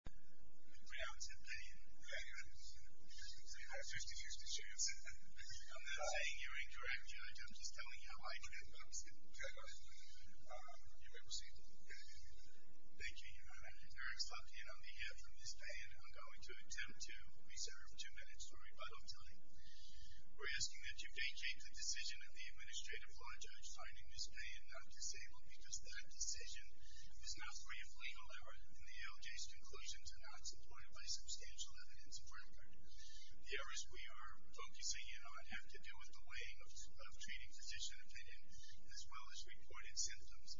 The grounds of Payan, I'm not saying you're incorrect, Judge, I'm just telling you how I came to understand. You may proceed. Thank you, Your Honor. Your Honor, on behalf of Ms. Payan, I'm going to attempt to reserve two minutes for rebuttal time. We're asking that you vacate the decision of the Administrative Law Judge finding Ms. Payan not disabled because that decision is not free of legal error and the LJ's conclusions are not supported by substantial evidence of her impact. The errors we are focusing in on have to do with the way of treating physician opinion as well as reported symptoms.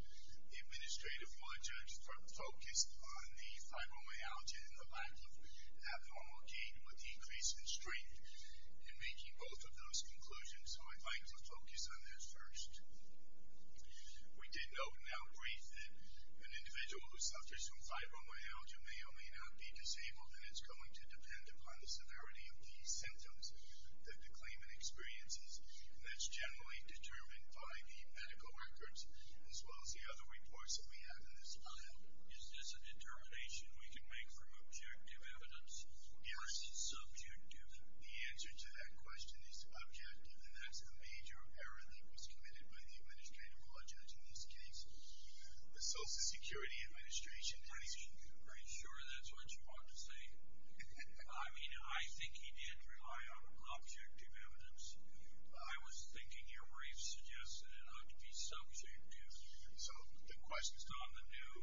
The Administrative Law Judge focused on the fibromyalgia and the lack of abnormal gait with decrease in strength. In making both of those conclusions, I would like to focus on theirs first. We did note in our brief that an individual who suffers from fibromyalgia may or may not be disabled and it's going to depend upon the severity of these symptoms that the claimant experiences and that's generally determined by the medical records as well as the other reports that we have in this file. Is this a determination we can make from objective evidence? Yes. Or is it subjective? The answer to that question is objective and that's a major error that was committed by the Administrative Law Judge in this case. The Social Security Administration has... Are you sure that's what you want to say? I mean, I think he did rely on objective evidence. I was thinking your brief suggested it ought to be subjective. So the question is not the new,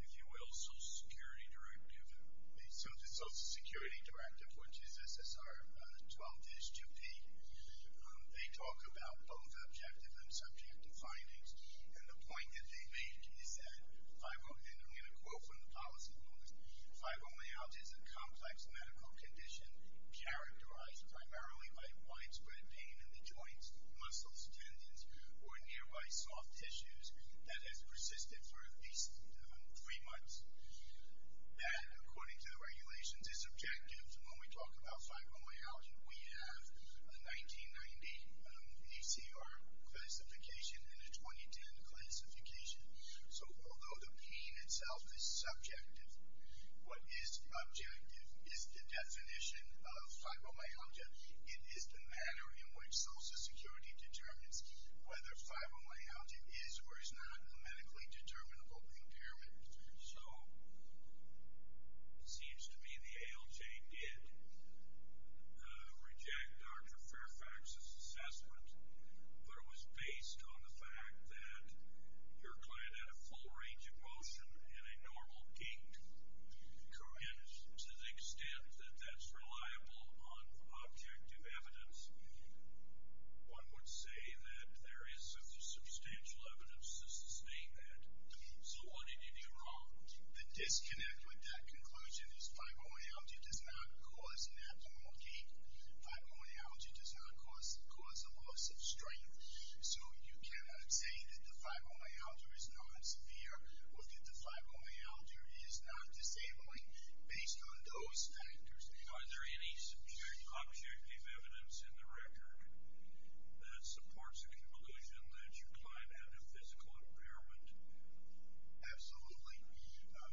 if you will, Social Security Directive. So the Social Security Directive, which is SSR 12-2P, they talk about both objective and subjective findings and the point that they make is that fibromyalgia, and I'm going to quote from the policy rules, fibromyalgia is a complex medical condition characterized primarily by widespread pain in the joints, muscles, tendons, or nearby soft tissues that has persisted for at least three months. And according to the regulations, it's objective. When we talk about fibromyalgia, we have a 1990 ACR classification and a 2010 classification. So although the pain itself is subjective, what is objective is the definition of fibromyalgia. It is the manner in which Social Security determines whether fibromyalgia is or is not a medically determinable impairment. So it seems to me the ALJ did reject Dr. Fairfax's assessment, but it was based on the fact that your client had a full range of motion and a normal gait. And to the extent that that's reliable on objective evidence, one would say that there is substantial evidence to sustain that. So what did you do wrong? The disconnect with that conclusion is fibromyalgia does not cause an abnormal gait. Fibromyalgia does not cause a loss of strength. So you cannot say that the fibromyalgia is not severe or that the fibromyalgia is not disabling based on those factors. Are there any superior objective evidence in the record that supports the conclusion that your client had a physical impairment? Absolutely.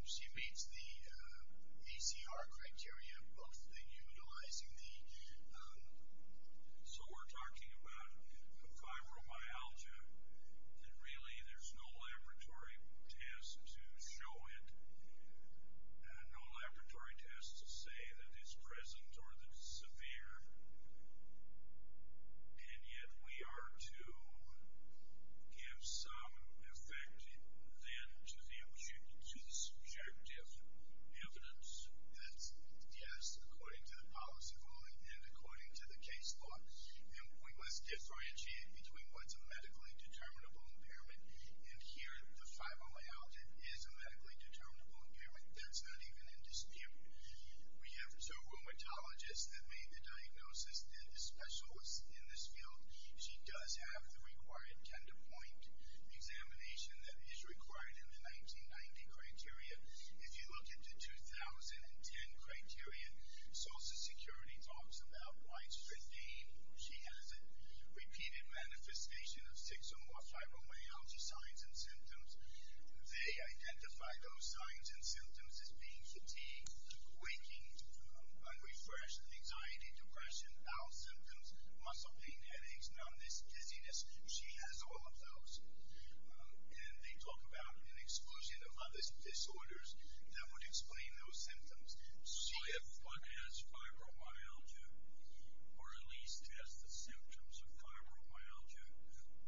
She meets the ACR criteria of utilizing the... So we're talking about fibromyalgia, and really there's no laboratory test to show it, no laboratory test to say that it's present or that it's severe. And yet we are to give some effect then to the subjective evidence. Yes, according to the policy calling and according to the case law. And we must disorientate between what's a medically determinable impairment, and here the fibromyalgia is a medically determinable impairment. That's not even in dispute. We have a rheumatologist that made the diagnosis that is special in this field. She does have the required tender point examination that is required in the 1990 criteria. If you look at the 2010 criteria, social security talks about widespread gain. She has a repeated manifestation of six or more fibromyalgia signs and symptoms. They identify those signs and symptoms as being fatigue, waking, unrefreshed, anxiety, depression, bowel symptoms, muscle pain, headaches, numbness, dizziness. She has all of those. And they talk about an exclusion of other disorders that would explain those symptoms. So if one has fibromyalgia, or at least has the symptoms of fibromyalgia,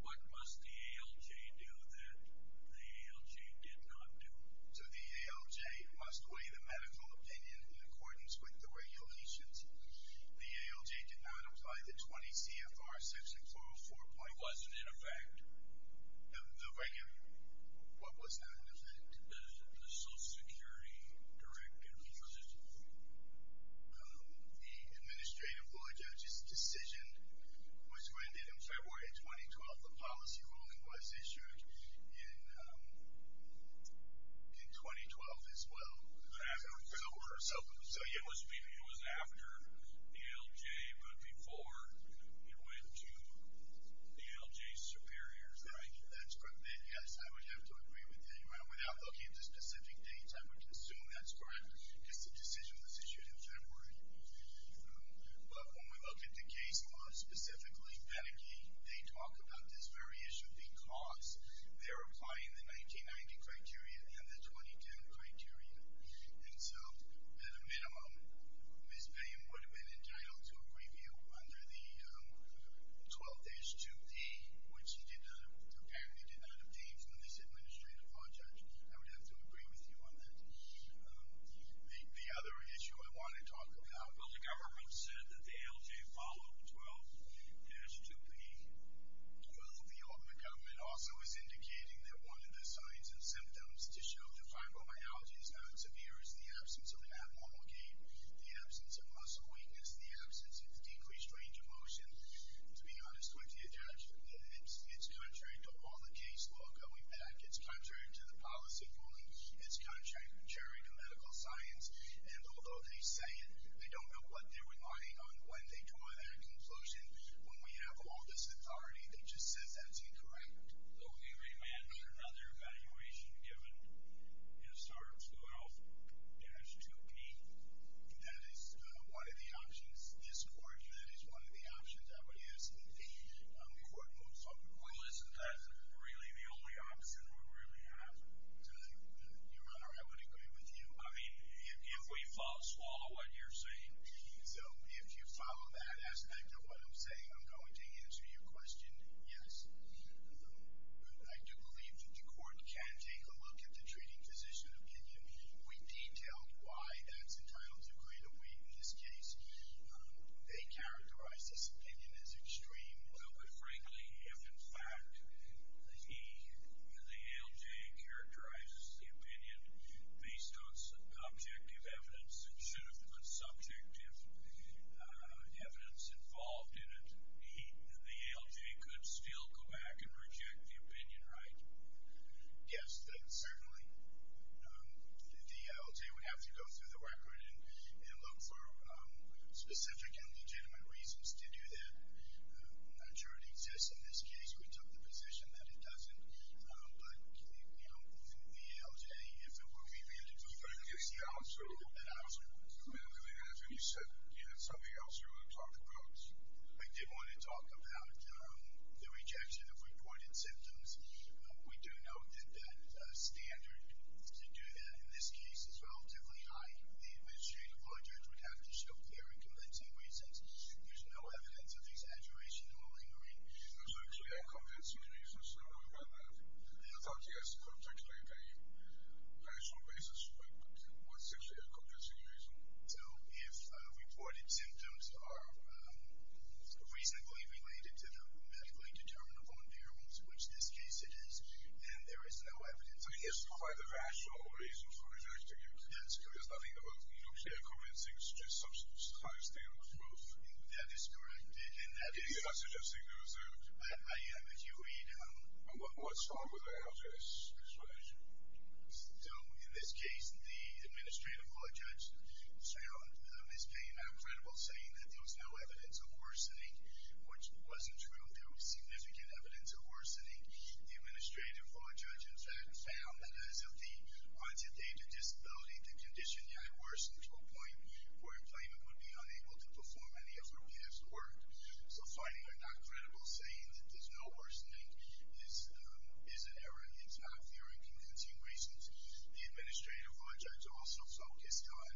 what must the ALJ do that the ALJ did not do? So the ALJ must weigh the medical opinion in accordance with the regulations. The ALJ did not apply the 20 CFR section 404. It wasn't in effect. What was not in effect? The social security direct disposition. The administrative lawyer judge's decision was granted in February 2012. The policy ruling was issued in 2012 as well. So it was after ALJ, but before it went to ALJ superiors. That's correct. Yes, I would have to agree with that. Without looking at the specific dates, I would assume that's correct. It's a decision that's issued in February. But when we look at the case law, specifically Panicky, they talk about this very issue because they're applying the 1990 criteria and the 2010 criteria. And so, at a minimum, Ms. Payne would have been entitled to a review under the 12H2B, which she apparently did not obtain from this administrative law judge. I would have to agree with you on that. The other issue I want to talk about, well, the government said that the ALJ followed 12H2B. Well, the government also is indicating that one of the signs and symptoms to show that fibromyalgia is not severe is the absence of abnormal gain, the absence of muscle weakness, the absence of decreased range of motion. To be honest with you, Judge, it's contrary to all the case law going back. It's contrary to the policy ruling. It's contrary to medical science. And although they say they don't know what they're relying on when they draw their conclusion, when we have all this authority, they just say that's incorrect. So, if you imagine another evaluation given, you start with 12H2B. That is one of the options. This court, that is one of the options. I would assume the court moves on. Well, isn't that really the only option we really have? Your Honor, I would agree with you. I mean, if we follow what you're saying. So, if you follow that aspect of what I'm saying, I'm going to answer your question, yes. I do believe that the court can take a look at the treating physician opinion. We detailed why that's entirely agreeable. We, in this case, they characterize this opinion as extreme. But, frankly, if, in fact, the ALJ characterizes the opinion based on objective evidence that should have been subjective evidence involved in it, the ALJ could still go back and reject the opinion, right? Yes, certainly. The ALJ would have to go through the record and look for specific and legitimate reasons to do that. I'm not sure it exists in this case. We took the position that it doesn't. But, you know, for the ALJ, if it were to be rejected. I think that's the answer. That's the answer. You said you had something else you wanted to talk about. I did want to talk about the rejection of reported symptoms. We do know that the standard to do that in this case is relatively high. The administrative law judge would have to show clear and convincing reasons. There's no evidence of these aggravation or malingering. There's no clear and convincing reasons. I know you brought that up. I thought you guys could articulate a rational basis for what's actually a convincing reason. So, if reported symptoms are reasonably related to the medically determinable variables, which in this case it is, then there is no evidence. I mean, there's quite a rational reason for rejection. That's correct. There's nothing about clear, convincing, substance-high standard of growth. That is correct. And that is. I'm not suggesting there is a. I am. If you read. What's wrong with the ALJ's explanation? So, in this case, the administrative law judge found his claim uncredible, saying that there was no evidence of worsening, which wasn't true. There was significant evidence of worsening. The administrative law judge, in fact, found that as of the quantitative disability, the condition had worsened to a point where employment would be unable to perform any of repeated work. So, finding it not credible, saying that there's no worsening, is an error. It's not clear and convincing reasons. The administrative law judge also focused on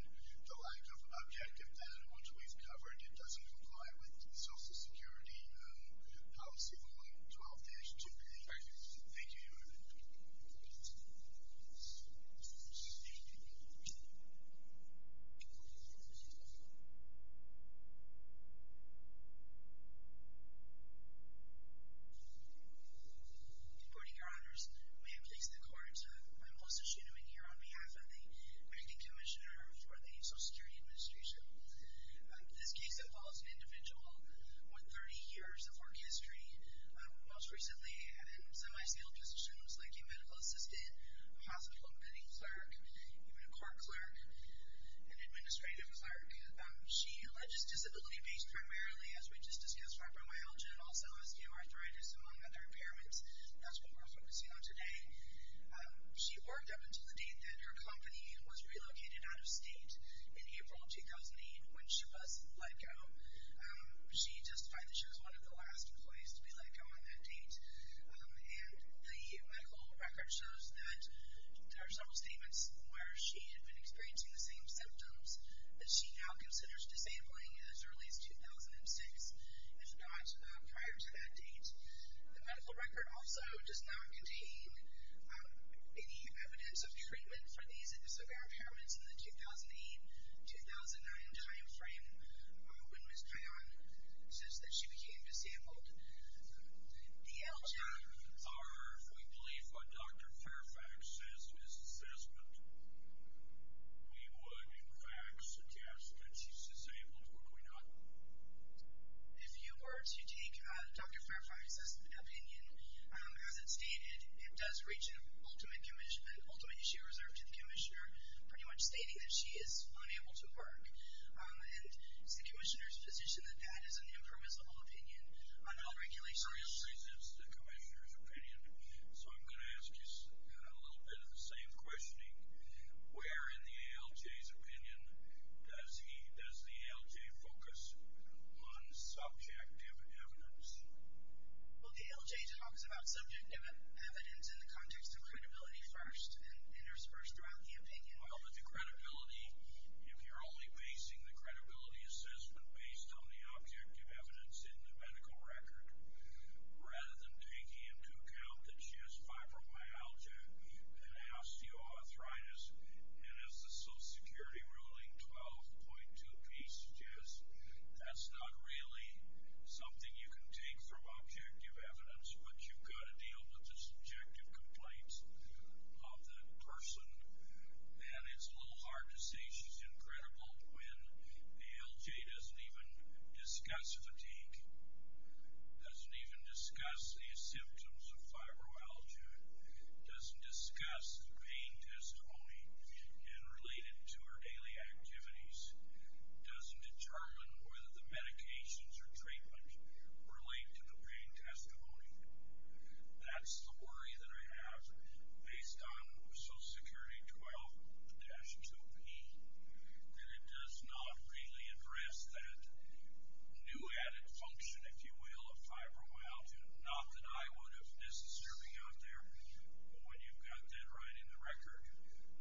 the lack of objective data, which we've covered. It doesn't comply with social security policy, so, I'll pass. Thank you. Thank you, your honor. Boarding your honors, we have placed the court to my most esteemed here on behalf of the granting commissioner for the social security administration. This case involves an individual with 30 years of work history, most recently at a semi-sealed position, was lately a medical assistant, a hospital admitting clerk, even a court clerk, an administrative clerk. She alleges disability based primarily, as we just discussed, fibromyalgia and also osteoarthritis, among other impairments. That's what we're focusing on today. She worked up until the date that her company was relocated out of state in April of 2008 when she was let go. She justified that she was one of the last employees to be let go on that date. And the medical record shows that there are several statements where she had been experiencing the same symptoms that she now considers disabling as early as 2006, if not prior to that date. The medical record also does not contain any evidence of treatment for these severe impairments in the 2008-2009 time frame when was found such that she became disabled. The outcome, or if we believe what Dr. Fairfax says is assessment, we would, in fact, suggest that she's disabled. Why not? If you were to take Dr. Fairfax's opinion, as it's stated, it does reach an ultimate commission, ultimate issue reserved to the commissioner, pretty much stating that she is unable to work. And it's the commissioner's decision that that is an impermissible opinion on all regulations. Well, this presents the commissioner's opinion, so I'm going to ask you a little bit of the same question. Where in the ALJ's opinion does the ALJ focus on subjective evidence? Well, the ALJ talks about subjective evidence in the context of credibility first Well, with the credibility, if you're only basing the credibility assessment based on the objective evidence in the medical record, rather than taking into account that she has fibromyalgia and osteoarthritis, and as the Social Security ruling 12.2B suggests, that's not really something you can take from objective evidence, but you've got to deal with the subjective complaints of that person. And it's a little hard to say she's incredible when the ALJ doesn't even discuss fatigue, doesn't even discuss the symptoms of fibromyalgia, doesn't discuss the pain testimony and relate it to her daily activities, doesn't determine whether the medications or treatment relate to the pain testimony. That's the worry that I have based on Social Security 12.2B, that it does not really address that new added function, if you will, of fibromyalgia. Not that I would have necessarily out there, but when you've got that right in the record,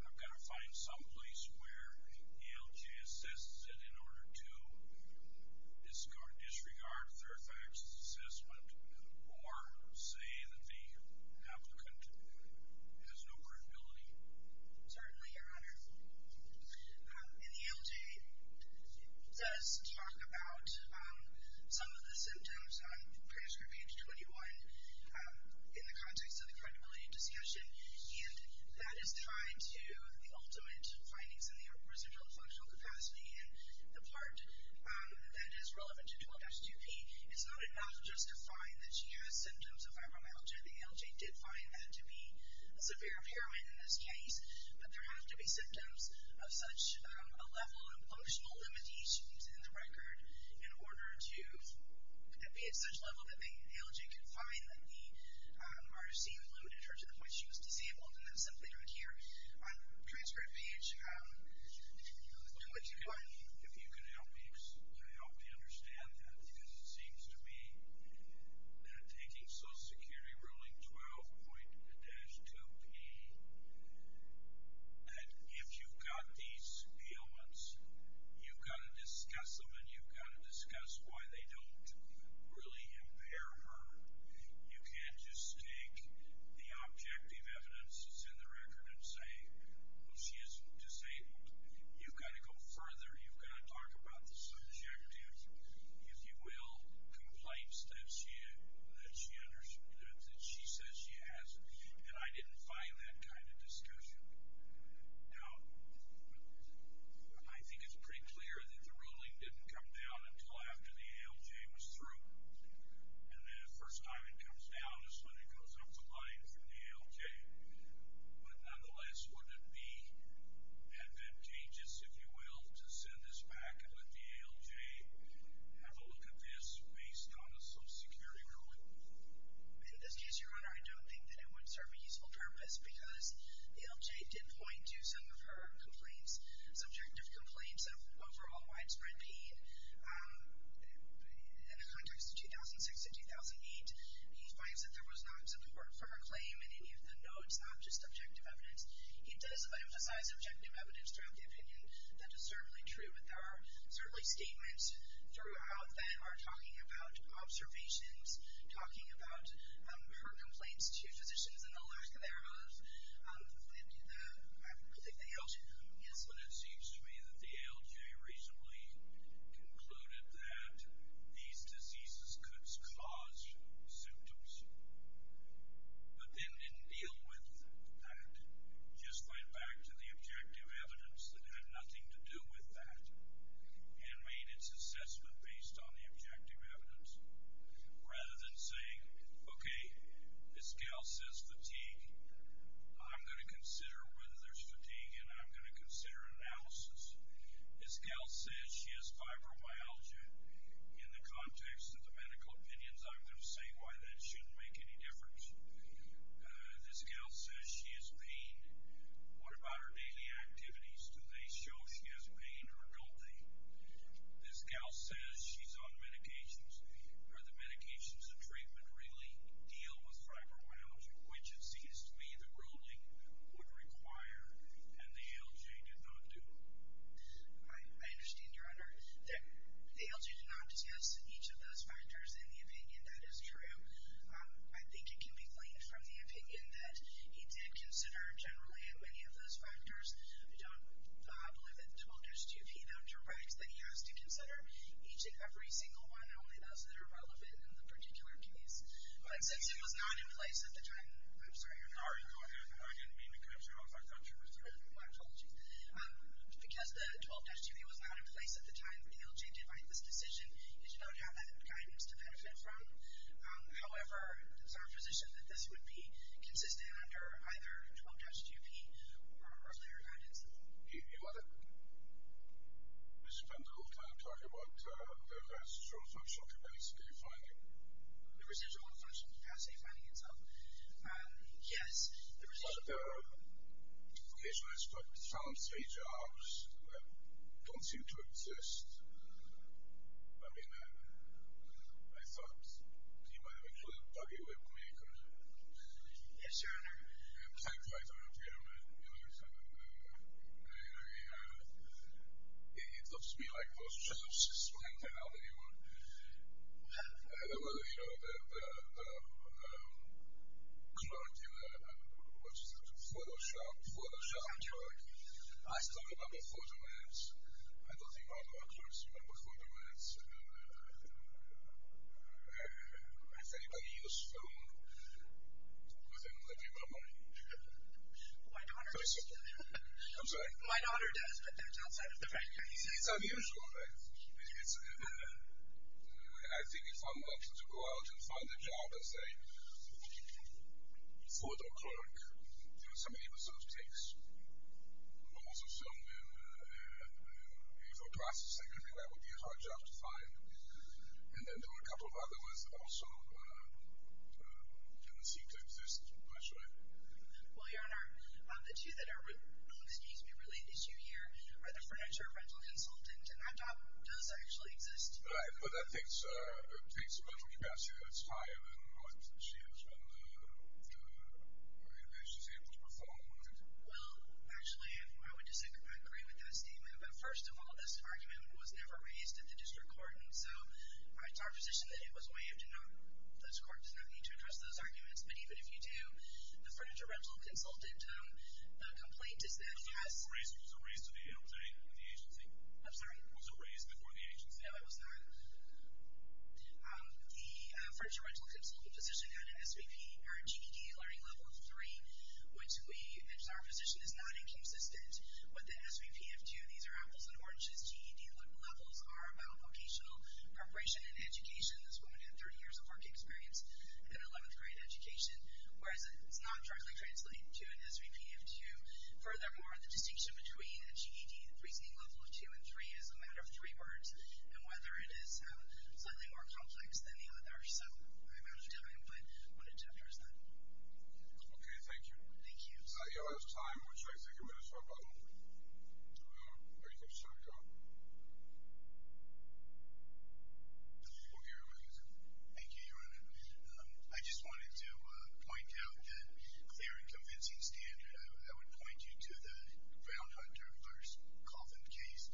I've got to find some place where the ALJ assists it in order to disregard a third-party assessment or say that the applicant has no credibility. Certainly, Your Honor. And the ALJ does talk about some of the symptoms on prescript page 21 in the context of the credibility discussion, and that is tied to the ultimate findings in the residual functional capacity and the part that is relevant to 12.2B. It's not enough just to find that she has symptoms of fibromyalgia. The ALJ did find that to be severe heroin in this case, but there have to be symptoms of such a level of functional limitations in the record in order to be at such a level that the ALJ could find that the emergency included her to the point she was disabled and then simply adhere on the prescript page to what you find. If you could help me understand that, because it seems to me that taking Social Security Ruling 12.2B, that if you've got these ailments, you've got to discuss them and you've got to discuss why they don't really impair her. You can't just take the objective evidence that's in the record and say, well, she is disabled. You've got to go further. You've got to talk about the subjective, if you will, complaints that she says she has, and I didn't find that kind of discussion. Now, I think it's pretty clear that the ruling didn't come down until after the ALJ was through, and the first time it comes down is when it goes up the line from the ALJ. But nonetheless, would it be advantageous, if you will, to send this back and let the ALJ have a look at this based on a Social Security ruling? In this case, Your Honor, I don't think that it would serve a useful purpose because the ALJ did point to some of her complaints, some overall widespread pain. In the context of 2006 and 2008, he finds that there was not support for her claim in any of the notes, not just objective evidence. He does emphasize objective evidence throughout the opinion. That is certainly true. There are certainly statements throughout that are talking about observations, talking about her complaints to physicians and the lack thereof. But it seems to me that the ALJ recently concluded that these diseases could cause symptoms, but then didn't deal with that, just went back to the objective evidence that had nothing to do with that, and made its assessment based on the objective evidence, rather than saying, okay, this gal says fatigue. I'm going to consider whether there's fatigue, and I'm going to consider analysis. This gal says she has fibromyalgia. In the context of the medical opinions, I'm going to say why that shouldn't make any difference. This gal says she has pain. What about her daily activities? Do they show she has pain or don't they? This gal says she's on medications. Do the medications and treatment really deal with fibromyalgia, which it seems to me the ruling would require and the ALJ did not do? I understand, Your Honor. The ALJ did not discuss each of those factors in the opinion. That is true. I think it can be claimed from the opinion that he did consider generally many of those factors. I believe that the 12-2P doctor writes that he has to consider each and every single one, and only those that are relevant in the particular case. Since it was not in place at the time, I'm sorry, Your Honor. I didn't mean to confuse you. I was like, I'm sure it was true. Well, I told you. Because the 12-2P was not in place at the time, the ALJ did write this decision. It did not have that guidance to benefit from. However, it is our position that this would be consistent under either 12-2P or a later guidance. Your Honor. Mr. Pendergolf, can I talk about the residual function capacity finding? The residual function capacity finding itself? Yes, the residual function. The patient has found three jobs, don't seem to exist. I mean, I thought you might have a clue. Okay, wait for me. Yes, Your Honor. I'm trying to write it down here. I mean, it looks to me like those chances went out anyway. There were, you know, the clergyman, I don't know what's his name, Photoshop, Photoshop clerk, I still remember Photominutes. I don't think all of our clerks remember Photominutes. Has anybody used phone within the people of my age? My daughter does. I'm sorry? My daughter does, but that's outside of the practice. It's unusual, right? I think if I'm not to go out and find a job as a photo clerk, there are so many episodes it takes. Most of them are filmed in a photo processing company. That would be a hard job to find. And then there are a couple of other ones that also tend to seem to exist, actually. Well, Your Honor, the two that are most easily related to you here are the furniture rental consultant, and that job does actually exist. Right, but that takes a bunch of capacity. It's higher than what she has been able to perform. Well, actually, I would disagree. I agree with that statement. But first of all, this argument was never raised at the district court, and so it's our position that it was waived. Those courts do not need to address those arguments. But even if you do, the furniture rental consultant, the complaint is that it has been raised. It was raised at the agency? I'm sorry? Was it raised before the agency? No, it was not. The furniture rental consultant position had an SVP or a GED learning level of 3, which our position is not inconsistent with the SVP of 2. These are apples and oranges. GED levels are about vocational preparation and education. This woman had 30 years of work experience in 11th grade education, whereas it does not directly translate to an SVP of 2. Furthermore, the distinction between a GED reasoning level of 2 and 3 is a matter of three words, and whether it is slightly more complex than the other. So I'm not going to tell you what it differs in. Okay. Thank you. Thank you. We have time. We'll try to take a minute or so to make a starting comment. We'll hear from you, sir. Thank you, Your Honor. I just wanted to point out that clear and convincing standard. I would point you to the Brown-Hunter v. Coffin case,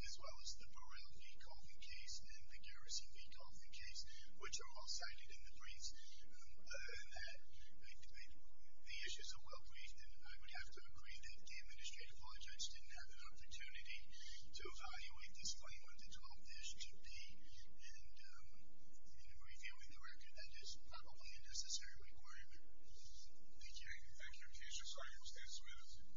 as well as the Burrell v. Coffin case and the Garrison v. Coffin case, which are all cited in the briefs. The issues are well-briefed, and I would have to agree that the Administrative Law Judge didn't have an opportunity to evaluate this claim or to drop this GP in reviewing the record. That is probably a necessary requirement. Thank you. Thank you. I appreciate your time. Thank you.